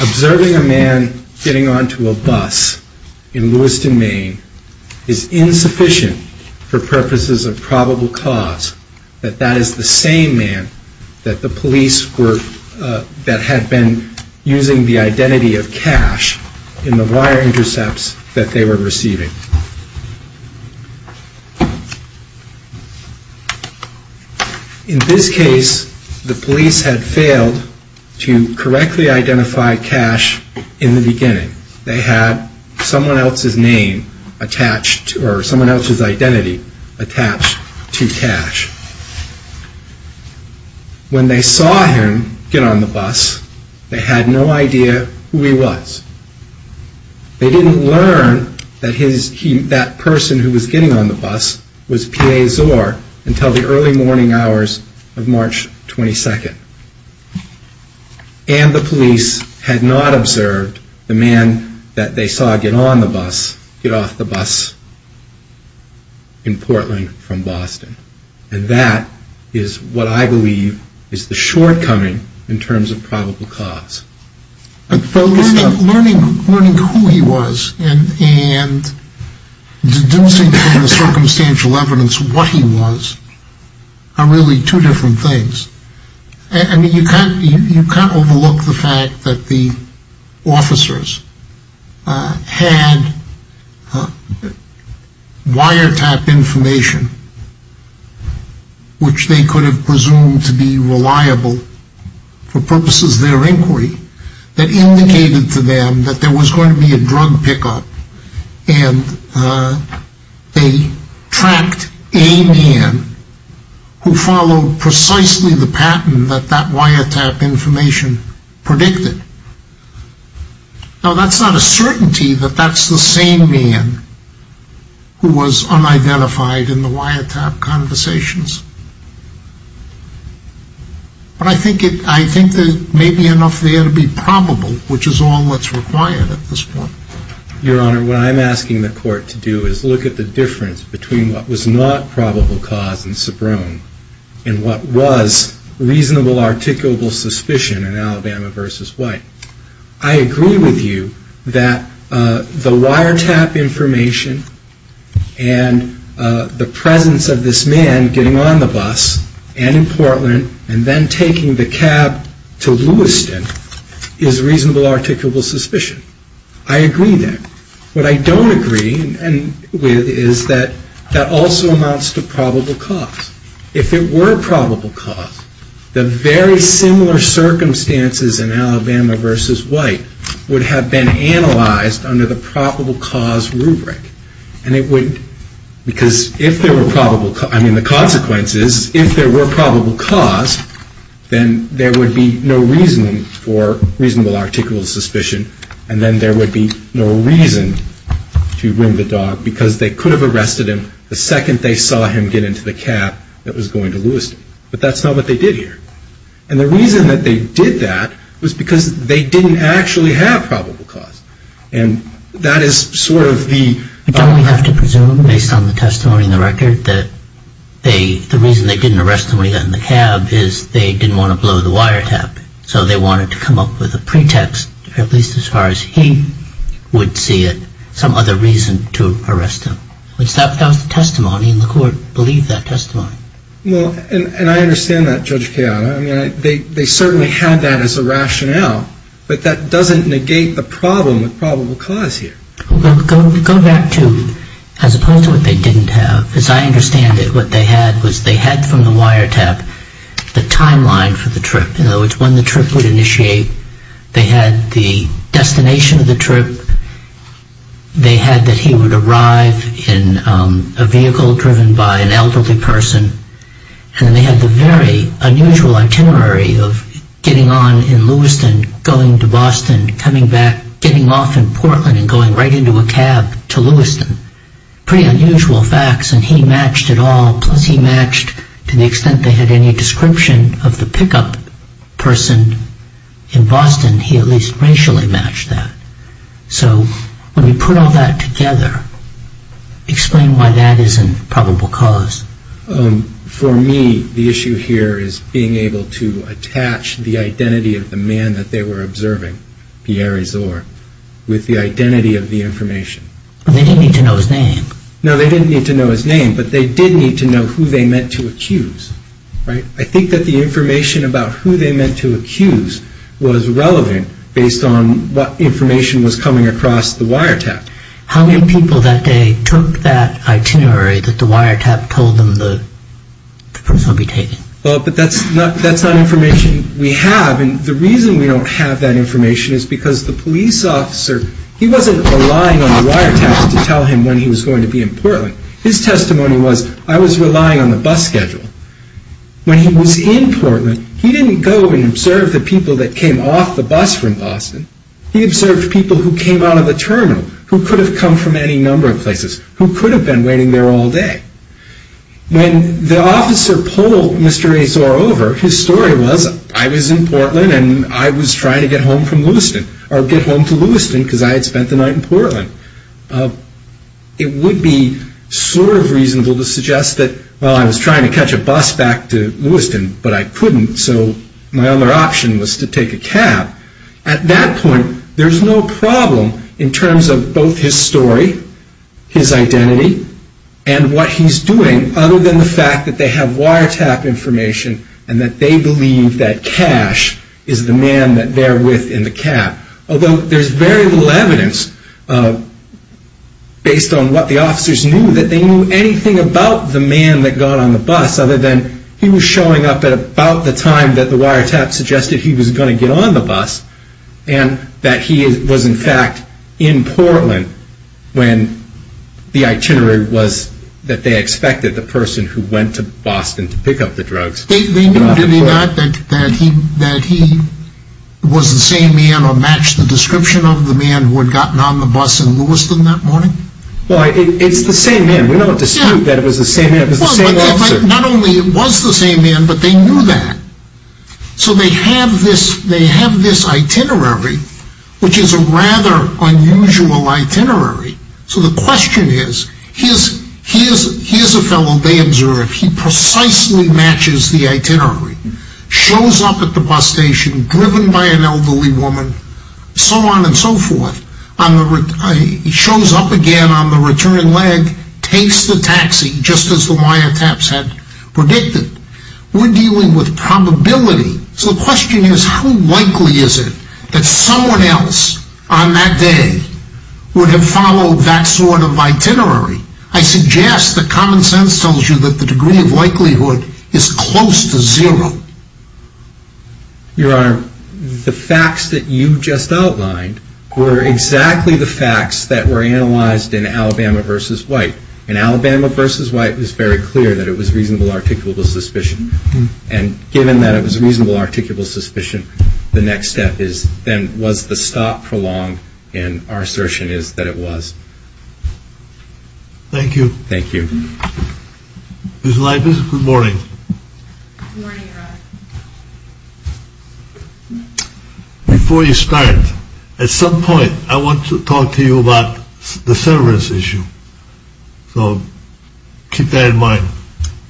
observing a man getting onto a bus in Lewiston, Maine is insufficient for purposes of probable cause that that is the same man that the police were, that had been using the identity of Cash in the wire intercepts that they were receiving. In this case, the police had failed to correctly identify Cash in the beginning. They had someone else's name attached or someone else's identity attached to Cash. When they saw him get on the bus, they had no idea who he was. They didn't learn that that person who was getting on the bus was getting off the bus in Portland from Boston. And that is what I believe is the shortcoming in terms of probable cause. But learning who he was and deducing from the circumstantial evidence what he was are really two different things. You can't overlook the fact that the officers had wiretap information, which they could have presumed to be reliable for purposes of their inquiry, that indicated to them that there was going to be a drug pickup. And they tracked a man who followed precisely the pattern that that wiretap information predicted. Now that's not a certainty that that's the same man who was unidentified in the wiretap conversations. But I think there may be enough there to be probable, which is all that's required at this point. Your Honor, what I'm asking the court to do is look at the difference between what was not probable cause and subrome and what was reasonable articulable suspicion in Alabama v. White. I agree with you that the wiretap information and the presence of this man getting on the bus and in Portland and then taking the cab to Lewiston is reasonable articulable suspicion. I agree that. What I don't agree with is that that also amounts to probable cause. If it were probable cause, the very similar circumstances in Alabama v. White would have been analyzed under the probable cause rubric. And it would, because if there were probable, I mean the consequences, if there were probable cause, then there would be no reason for reasonable articulable suspicion. And then there would be no reason to bring the dog because they could have arrested him the second they saw him get into the cab that was going to Lewiston. But that's not what they did here. And the reason that they did that was because they didn't actually have probable cause. And that is sort of the... Don't we have to presume, based on the testimony in the record, that the reason they didn't arrest him when he got in the cab is they didn't want to blow the wiretap. So they wanted to come up with a pretext, at least as far as he would see it, some other reason to arrest him. Which that was the testimony and the court believed that testimony. Well, and I understand that, Judge Kean. I mean, they certainly had that as a rationale, but that doesn't negate the problem with probable cause here. Well, go back to as opposed to what they didn't have. As I understand it, what they had was they had from the wiretap the timeline for the trip. In other words, when the trip would initiate, they had the destination of the trip. They had that he would arrive in a vehicle driven by an elderly person. And they had the very unusual itinerary of getting on in Lewiston, going to Boston, coming back, getting off in Portland and going right into a cab to Lewiston. Pretty unusual facts, and he matched it all. Plus he matched, to the extent they had any description of the pickup person in Boston, he at least racially matched that. So when we put all that together, explain why that isn't probable cause. For me, the issue here is being able to attach the identity of the man that they were observing, Pierre Azor, with the identity of the information. They didn't need to know his name. No, they didn't need to know his name, but they did need to know who they meant to accuse. I think that the information about who they meant to accuse was relevant based on what information was coming across the wiretap. How many people that day took that itinerary that the wiretap told them the person would be taking? But that's not information we have. And the reason we don't have that information is because the police officer, he wasn't relying on the wiretaps to tell him when he was going to be in Portland. His testimony was, I was relying on the bus schedule. When he was in Portland, he didn't go and observe the people that came off the bus from Boston. He observed people who came out of the terminal, who could have come from any number of places, who could have been waiting there all day. When the officer polled Mr. Azor over, his story was, I was in Portland and I was trying to get home from Lewiston, or get home to Lewiston because I had spent the night in Portland. It would be sort of reasonable to suggest that, well, I was trying to catch a bus back to Lewiston, but I couldn't, so my other option was to take a cab. At that point, there's no problem in terms of both his story, his identity, and what he's doing, other than the fact that they have wiretap information and that they believe that Cash is the man that they're with in the cab. Although there's very little evidence, based on what the officers knew, that they knew anything about the man that got on the bus, other than he was showing up at about the time that the wiretap suggested he was going to get on the bus, and that he was, in fact, in Portland when the itinerary was that they expected the person who went to Boston to pick up the drugs. They knew, did they not, that he was the same man or matched the description of the man who had gotten on the bus in Lewiston that morning? Well, it's the same man. We don't dispute that it was the same officer. Not only was it the same man, but they knew that. So they have this itinerary, which is a rather unusual itinerary. So the question is, here's a fellow, Bamser, if he precisely matches the itinerary, shows up at the bus station, driven by an elderly woman, so on and so forth, shows up again on the return leg, takes the taxi, just as the wiretaps had predicted, we're dealing with probability. So the question is, how likely is it that someone else on that day would have followed that sort of itinerary? I suggest that common sense tells you that the degree of likelihood is close to zero. Your Honor, the facts that you just outlined were exactly the facts that were analyzed in Alabama v. White. In Alabama v. White, it was very clear that it was reasonable articulable suspicion. And given that it was reasonable articulable suspicion, the next step then was to stop for long, and our assertion is that it was. Thank you. Thank you. Ms. Leibis, good morning. Good morning, Your Honor. Before you start, at some point, I want to talk to you about the severance issue. So keep that in mind.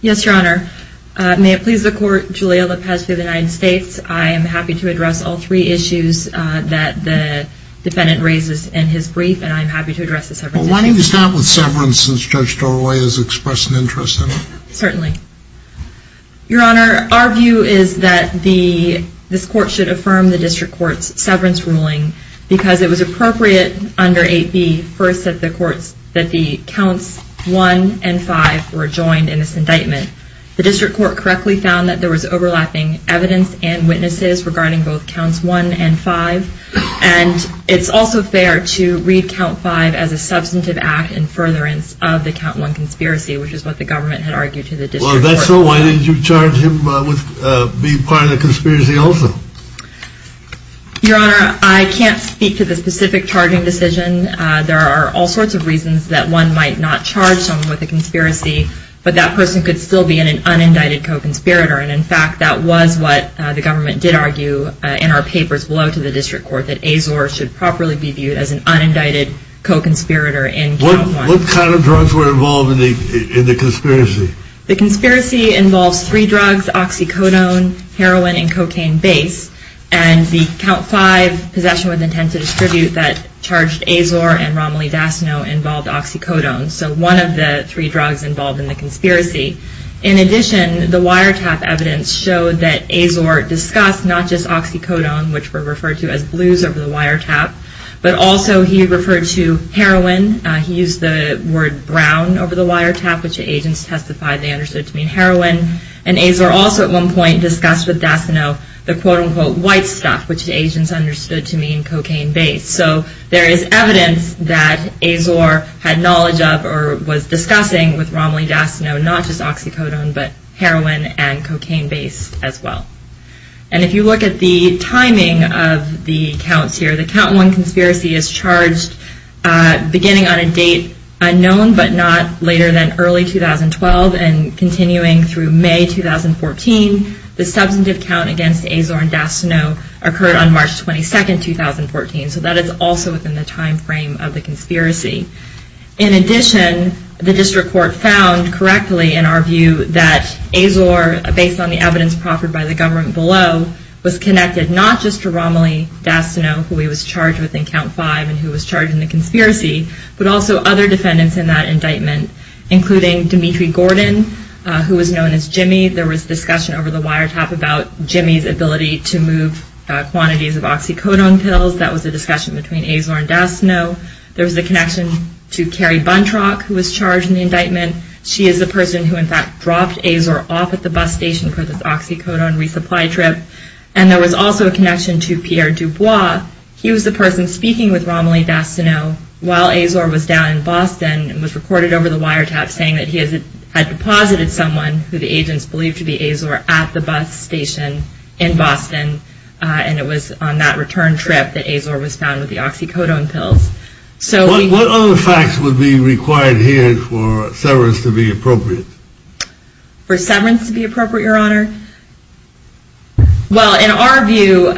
Yes, Your Honor. May it please the Court, Julio Lopez v. United States, I am happy to address all three issues that the defendant raises in his brief, and I am happy to address the severance issue. Well, why don't you start with severance, since Judge Toroya has expressed an interest in it? Certainly. Your Honor, our view is that this Court should affirm the District Court's severance ruling, because it was appropriate under 8b, first, that the counts 1 and 5 were joined in this indictment. The District Court correctly found that there was overlapping evidence and witnesses regarding both counts 1 and 5, and it's also fair to read count 5 as a substantive act in furtherance of the count 1 conspiracy, which is what the government had argued to the District Court. Well, if that's so, why didn't you charge him with being part of the conspiracy also? Your Honor, I can't speak to the specific charging decision. There are all sorts of reasons that one might not charge someone with a conspiracy, but that person could still be in an unindicted co-conspirator, and in fact that was what the government did argue in our papers below to the District Court, that Azor should properly be viewed as an unindicted co-conspirator in count 1. What kind of drugs were involved in the conspiracy? The conspiracy involves three drugs, oxycodone, heroin, and cocaine base, and the count 5 possession with intent to distribute that charged Azor and Romilly Dasnow involved oxycodone, so one of the three drugs involved in the conspiracy. In addition, the wiretap evidence showed that Azor discussed not just oxycodone, which were referred to as blues over the wiretap, but also he referred to heroin. He used the word brown over the wiretap, which the agents testified they understood to mean heroin, and Azor also at one point discussed with Dasnow the quote-unquote white stuff, which the agents understood to mean cocaine base. So there is evidence that Azor had knowledge of or was discussing with Romilly Dasnow, not just oxycodone, but heroin and cocaine base as well. And if you look at the timing of the counts here, the count 1 conspiracy is charged beginning on a date unknown but not later than early 2012 and continuing through May 2014. The substantive count against Azor and Dasnow occurred on March 22, 2014, so that is also within the time frame of the conspiracy. In addition, the district court found correctly in our view that Azor, based on the evidence proffered by the government below, was connected not just to Romilly Dasnow, who he was charged with in count 5 and who was charged in the conspiracy, but also other defendants in that indictment, including Dimitri Gordon, who was known as Jimmy. There was discussion over the wiretap about Jimmy's ability to move quantities of oxycodone pills. That was a discussion between Azor and Dasnow. There was a connection to Carrie Buntrock, who was charged in the indictment. She is the person who in fact dropped Azor off at the bus station for this oxycodone resupply trip. And there was also a connection to Pierre Dubois. He was the person speaking with Romilly Dasnow while Azor was down in Boston and was recorded over the wiretap saying that he had deposited someone, who the agents believed to be Azor, at the bus station in Boston, and it was on that return trip that Azor was found with the oxycodone pills. What other facts would be required here for severance to be appropriate? For severance to be appropriate, Your Honor? Well, in our view,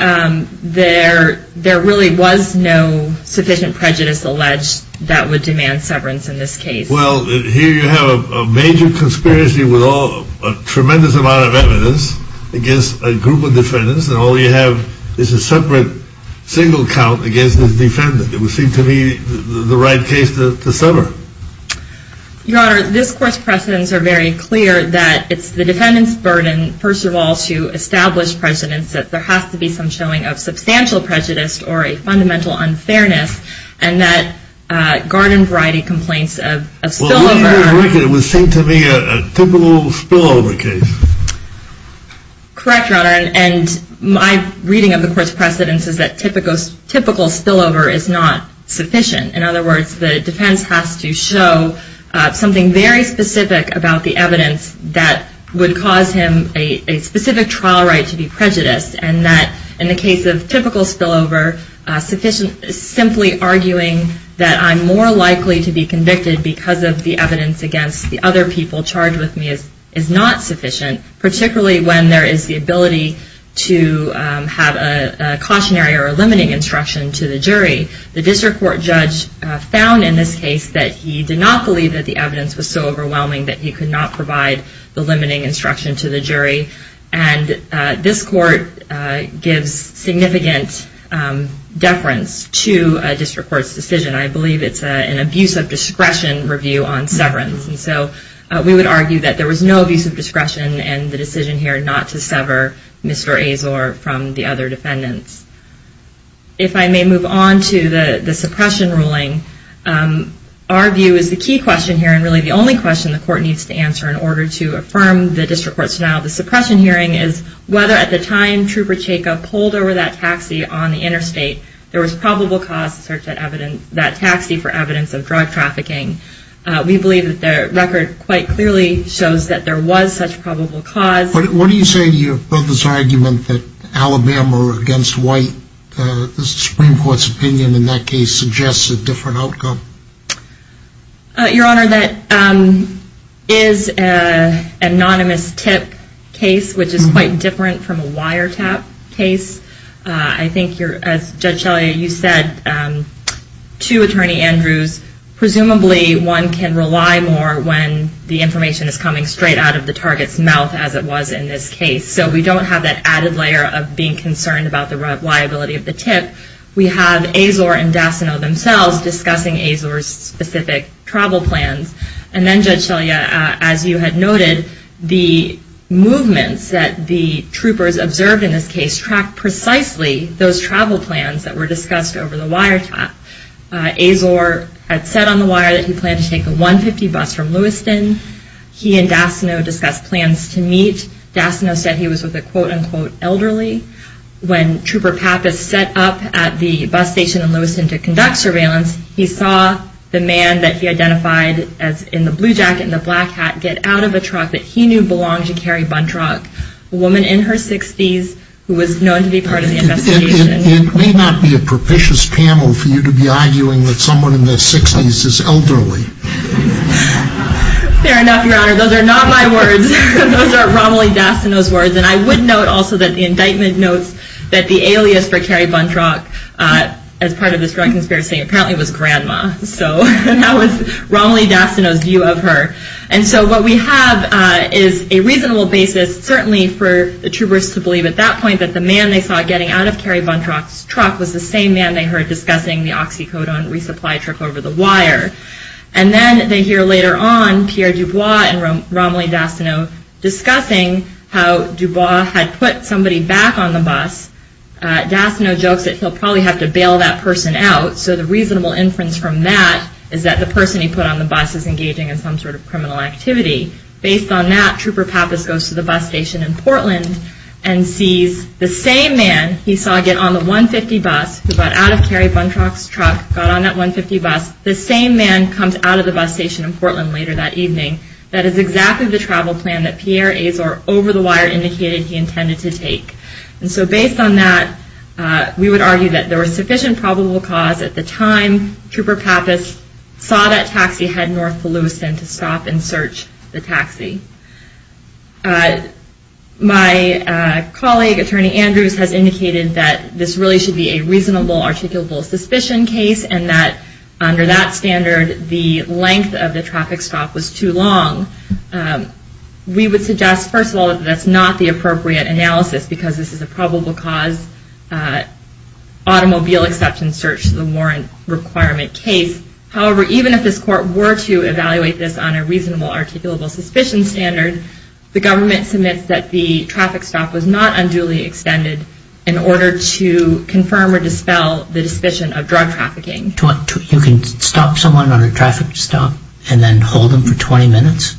there really was no sufficient prejudice alleged that would demand severance in this case. Well, here you have a major conspiracy with a tremendous amount of evidence against a group of defendants, and all you have is a separate single count against this defendant. It would seem to me the right case to sever. Your Honor, this Court's precedents are very clear that it's the defendant's burden, first of all, to establish precedents that there has to be some showing of substantial prejudice or a fundamental unfairness, and that garden-variety complaints of spillover... Well, here I reckon it would seem to me a typical spillover case. Correct, Your Honor, and my reading of the Court's precedents is that typical spillover is not sufficient. In other words, the defense has to show something very specific about the evidence that would cause him a specific trial right to be prejudiced, and that in the case of typical spillover, simply arguing that I'm more likely to be convicted because of the evidence against the other people charged with me is not sufficient, particularly when there is the ability to have a cautionary or a limiting instruction to the jury. The District Court judge found in this case that he did not believe that the evidence was so overwhelming that he could not provide the limiting instruction to the jury, and this Court gives significant deference to a District Court's decision. I believe it's an abuse of discretion review on severance, and so we would argue that there was no abuse of discretion in the decision here not to sever Mr. Azor from the other defendants. If I may move on to the suppression ruling, our view is the key question here and really the only question the Court needs to answer in order to affirm the District Court's denial of the suppression hearing is whether at the time Trooper Jacob pulled over that taxi on the interstate, there was probable cause to search that taxi for evidence of drug trafficking. We believe that the record quite clearly shows that there was such probable cause. What do you say to your brother's argument that Alabama were against white? The Supreme Court's opinion in that case suggests a different outcome. Your Honor, that is an anonymous tip case, which is quite different from a wiretap case. I think, as Judge Shelley, you said to Attorney Andrews, presumably one can rely more when the information is coming straight out of the target's mouth, as it was in this case. So we don't have that added layer of being concerned about the reliability of the tip. We have Azor and Dasano themselves discussing Azor's specific travel plans. And then, Judge Shelley, as you had noted, the movements that the troopers observed in this case tracked precisely those travel plans that were discussed over the wiretap. Azor had said on the wire that he planned to take the 150 bus from Lewiston. He and Dasano discussed plans to meet. Dasano said he was with a quote-unquote elderly. When Trooper Pappas set up at the bus station in Lewiston to conduct surveillance, he saw the man that he identified as in the blue jacket and the black hat get out of a truck that he knew belonged to Carrie Buntrock, a woman in her 60s who was known to be part of the investigation. It may not be a propitious panel for you to be arguing that someone in their 60s is elderly. Fair enough, Your Honor. Those are not my words. Those are Romilly Dasano's words. And I would note also that the indictment notes that the alias for Carrie Buntrock, as part of this drug conspiracy, apparently was Grandma. So that was Romilly Dasano's view of her. And so what we have is a reasonable basis, certainly for the troopers to believe at that point, that the man they saw getting out of Carrie Buntrock's truck was the same man they heard discussing the oxycodone resupply truck over the wire. And then they hear later on Pierre Dubois and Romilly Dasano discussing how Dubois had put somebody back on the bus. Dasano jokes that he'll probably have to bail that person out. So the reasonable inference from that is that the person he put on the bus is engaging in some sort of criminal activity. Based on that, Trooper Pappas goes to the bus station in Portland and sees the same man he saw get on the 150 bus, who got out of Carrie Buntrock's truck, got on that 150 bus. The same man comes out of the bus station in Portland later that evening. That is exactly the travel plan that Pierre Azor, over the wire, indicated he intended to take. And so based on that, we would argue that there was sufficient probable cause at the time Trooper Pappas saw that taxi head north to Lewiston to stop and search the taxi. My colleague, Attorney Andrews, has indicated that this really should be a reasonable articulable suspicion case and that under that standard, the length of the traffic stop was too long. We would suggest, first of all, that that's not the appropriate analysis because this is a probable cause automobile exception search to the warrant requirement case. However, even if this court were to evaluate this on a reasonable articulable suspicion standard, the government submits that the traffic stop was not unduly extended in order to confirm or dispel the suspicion of drug trafficking. You can stop someone on a traffic stop and then hold them for 20 minutes?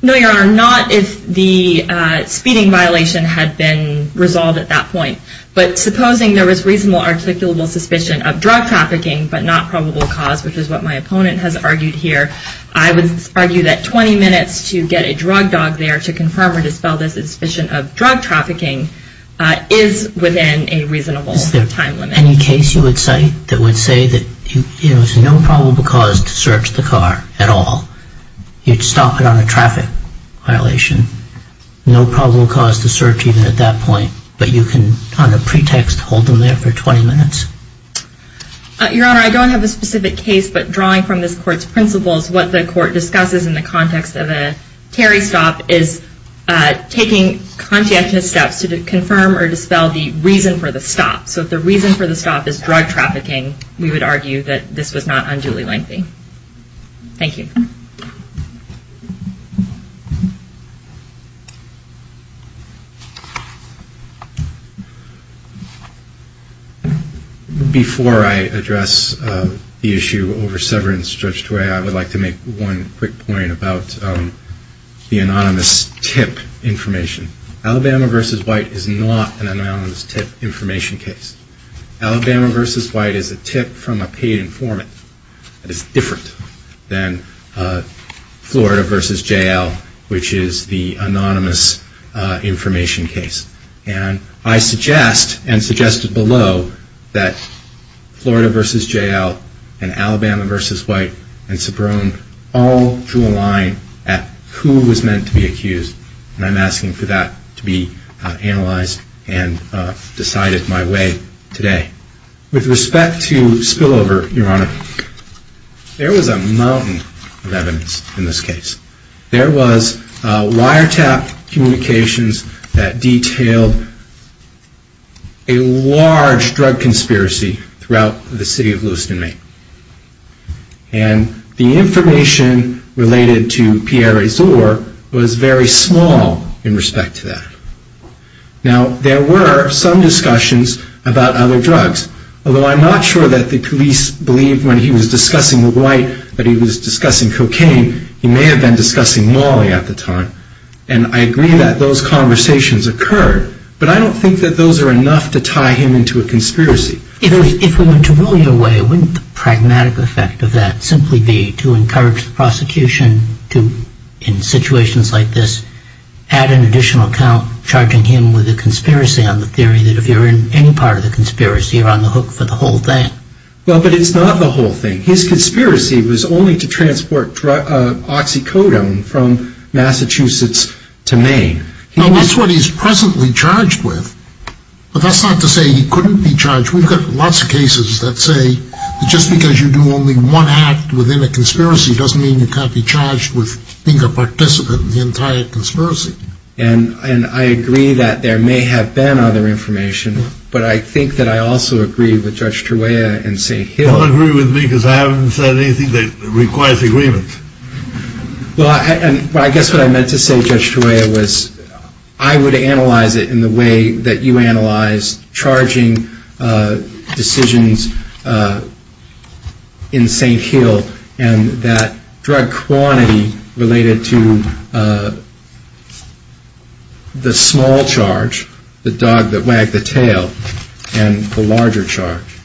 No, Your Honor, not if the speeding violation had been resolved at that point. But supposing there was reasonable articulable suspicion of drug trafficking but not probable cause, which is what my opponent has argued here, I would argue that 20 minutes to get a drug dog there to confirm or dispel this suspicion of drug trafficking is within a reasonable time limit. Is there any case you would cite that would say that there's no probable cause to search the car at all? You'd stop it on a traffic violation, no probable cause to search even at that point, but you can on a pretext hold them there for 20 minutes? Your Honor, I don't have a specific case, but drawing from this Court's principles, what the Court discusses in the context of a Terry stop is taking conscientious steps to confirm or dispel the reason for the stop. So if the reason for the stop is drug trafficking, we would argue that this was not unduly lengthy. Thank you. Thank you. Before I address the issue over severance, I would like to make one quick point about the anonymous tip information. Alabama v. White is not an anonymous tip information case. Alabama v. White is a tip from a paid informant. It's different than Florida v. J.L., which is the anonymous information case. And I suggest, and suggested below, that Florida v. J.L. and Alabama v. White and Sobrone all drew a line at who was meant to be accused, and I'm asking for that to be analyzed and decided my way today. With respect to spillover, Your Honor, there was a mountain of evidence in this case. There was wiretap communications that detailed a large drug conspiracy throughout the city of Lewiston, Maine. And the information related to Pierre Azur was very small in respect to that. Now, there were some discussions about other drugs, although I'm not sure that the police believed when he was discussing White that he was discussing cocaine. He may have been discussing mauling at the time. And I agree that those conversations occurred, but I don't think that those are enough to tie him into a conspiracy. If we were to rule your way, wouldn't the pragmatic effect of that simply be to encourage the prosecution to, in situations like this, add an additional count, charging him with a conspiracy on the theory that if you're in any part of the conspiracy, you're on the hook for the whole thing? Well, but it's not the whole thing. His conspiracy was only to transport oxycodone from Massachusetts to Maine. Now, that's what he's presently charged with, but that's not to say he couldn't be charged. We've got lots of cases that say that just because you do only one act within a conspiracy doesn't mean you can't be charged with being a participant in the entire conspiracy. And I agree that there may have been other information, but I think that I also agree with Judge Teruea and St. Hill. Don't agree with me because I haven't said anything that requires agreement. Well, I guess what I meant to say, Judge Teruea, was I would analyze it in the way that you analyzed charging decisions in St. Hill and that drug quantity related to the small charge, the dog that wagged the tail, and the larger charge.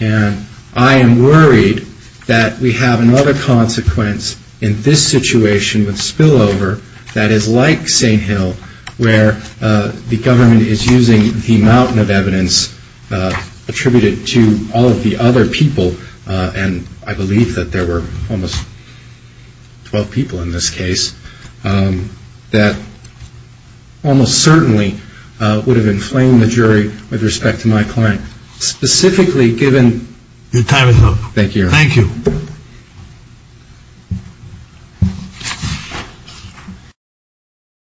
And I am worried that we have another consequence in this situation with spillover that is like St. Hill where the government is using the mountain of evidence attributed to all of the other people, and I believe that there were almost 12 people in this case, that almost certainly would have inflamed the jury with respect to my client, specifically given... Your time is up. Thank you. Thank you.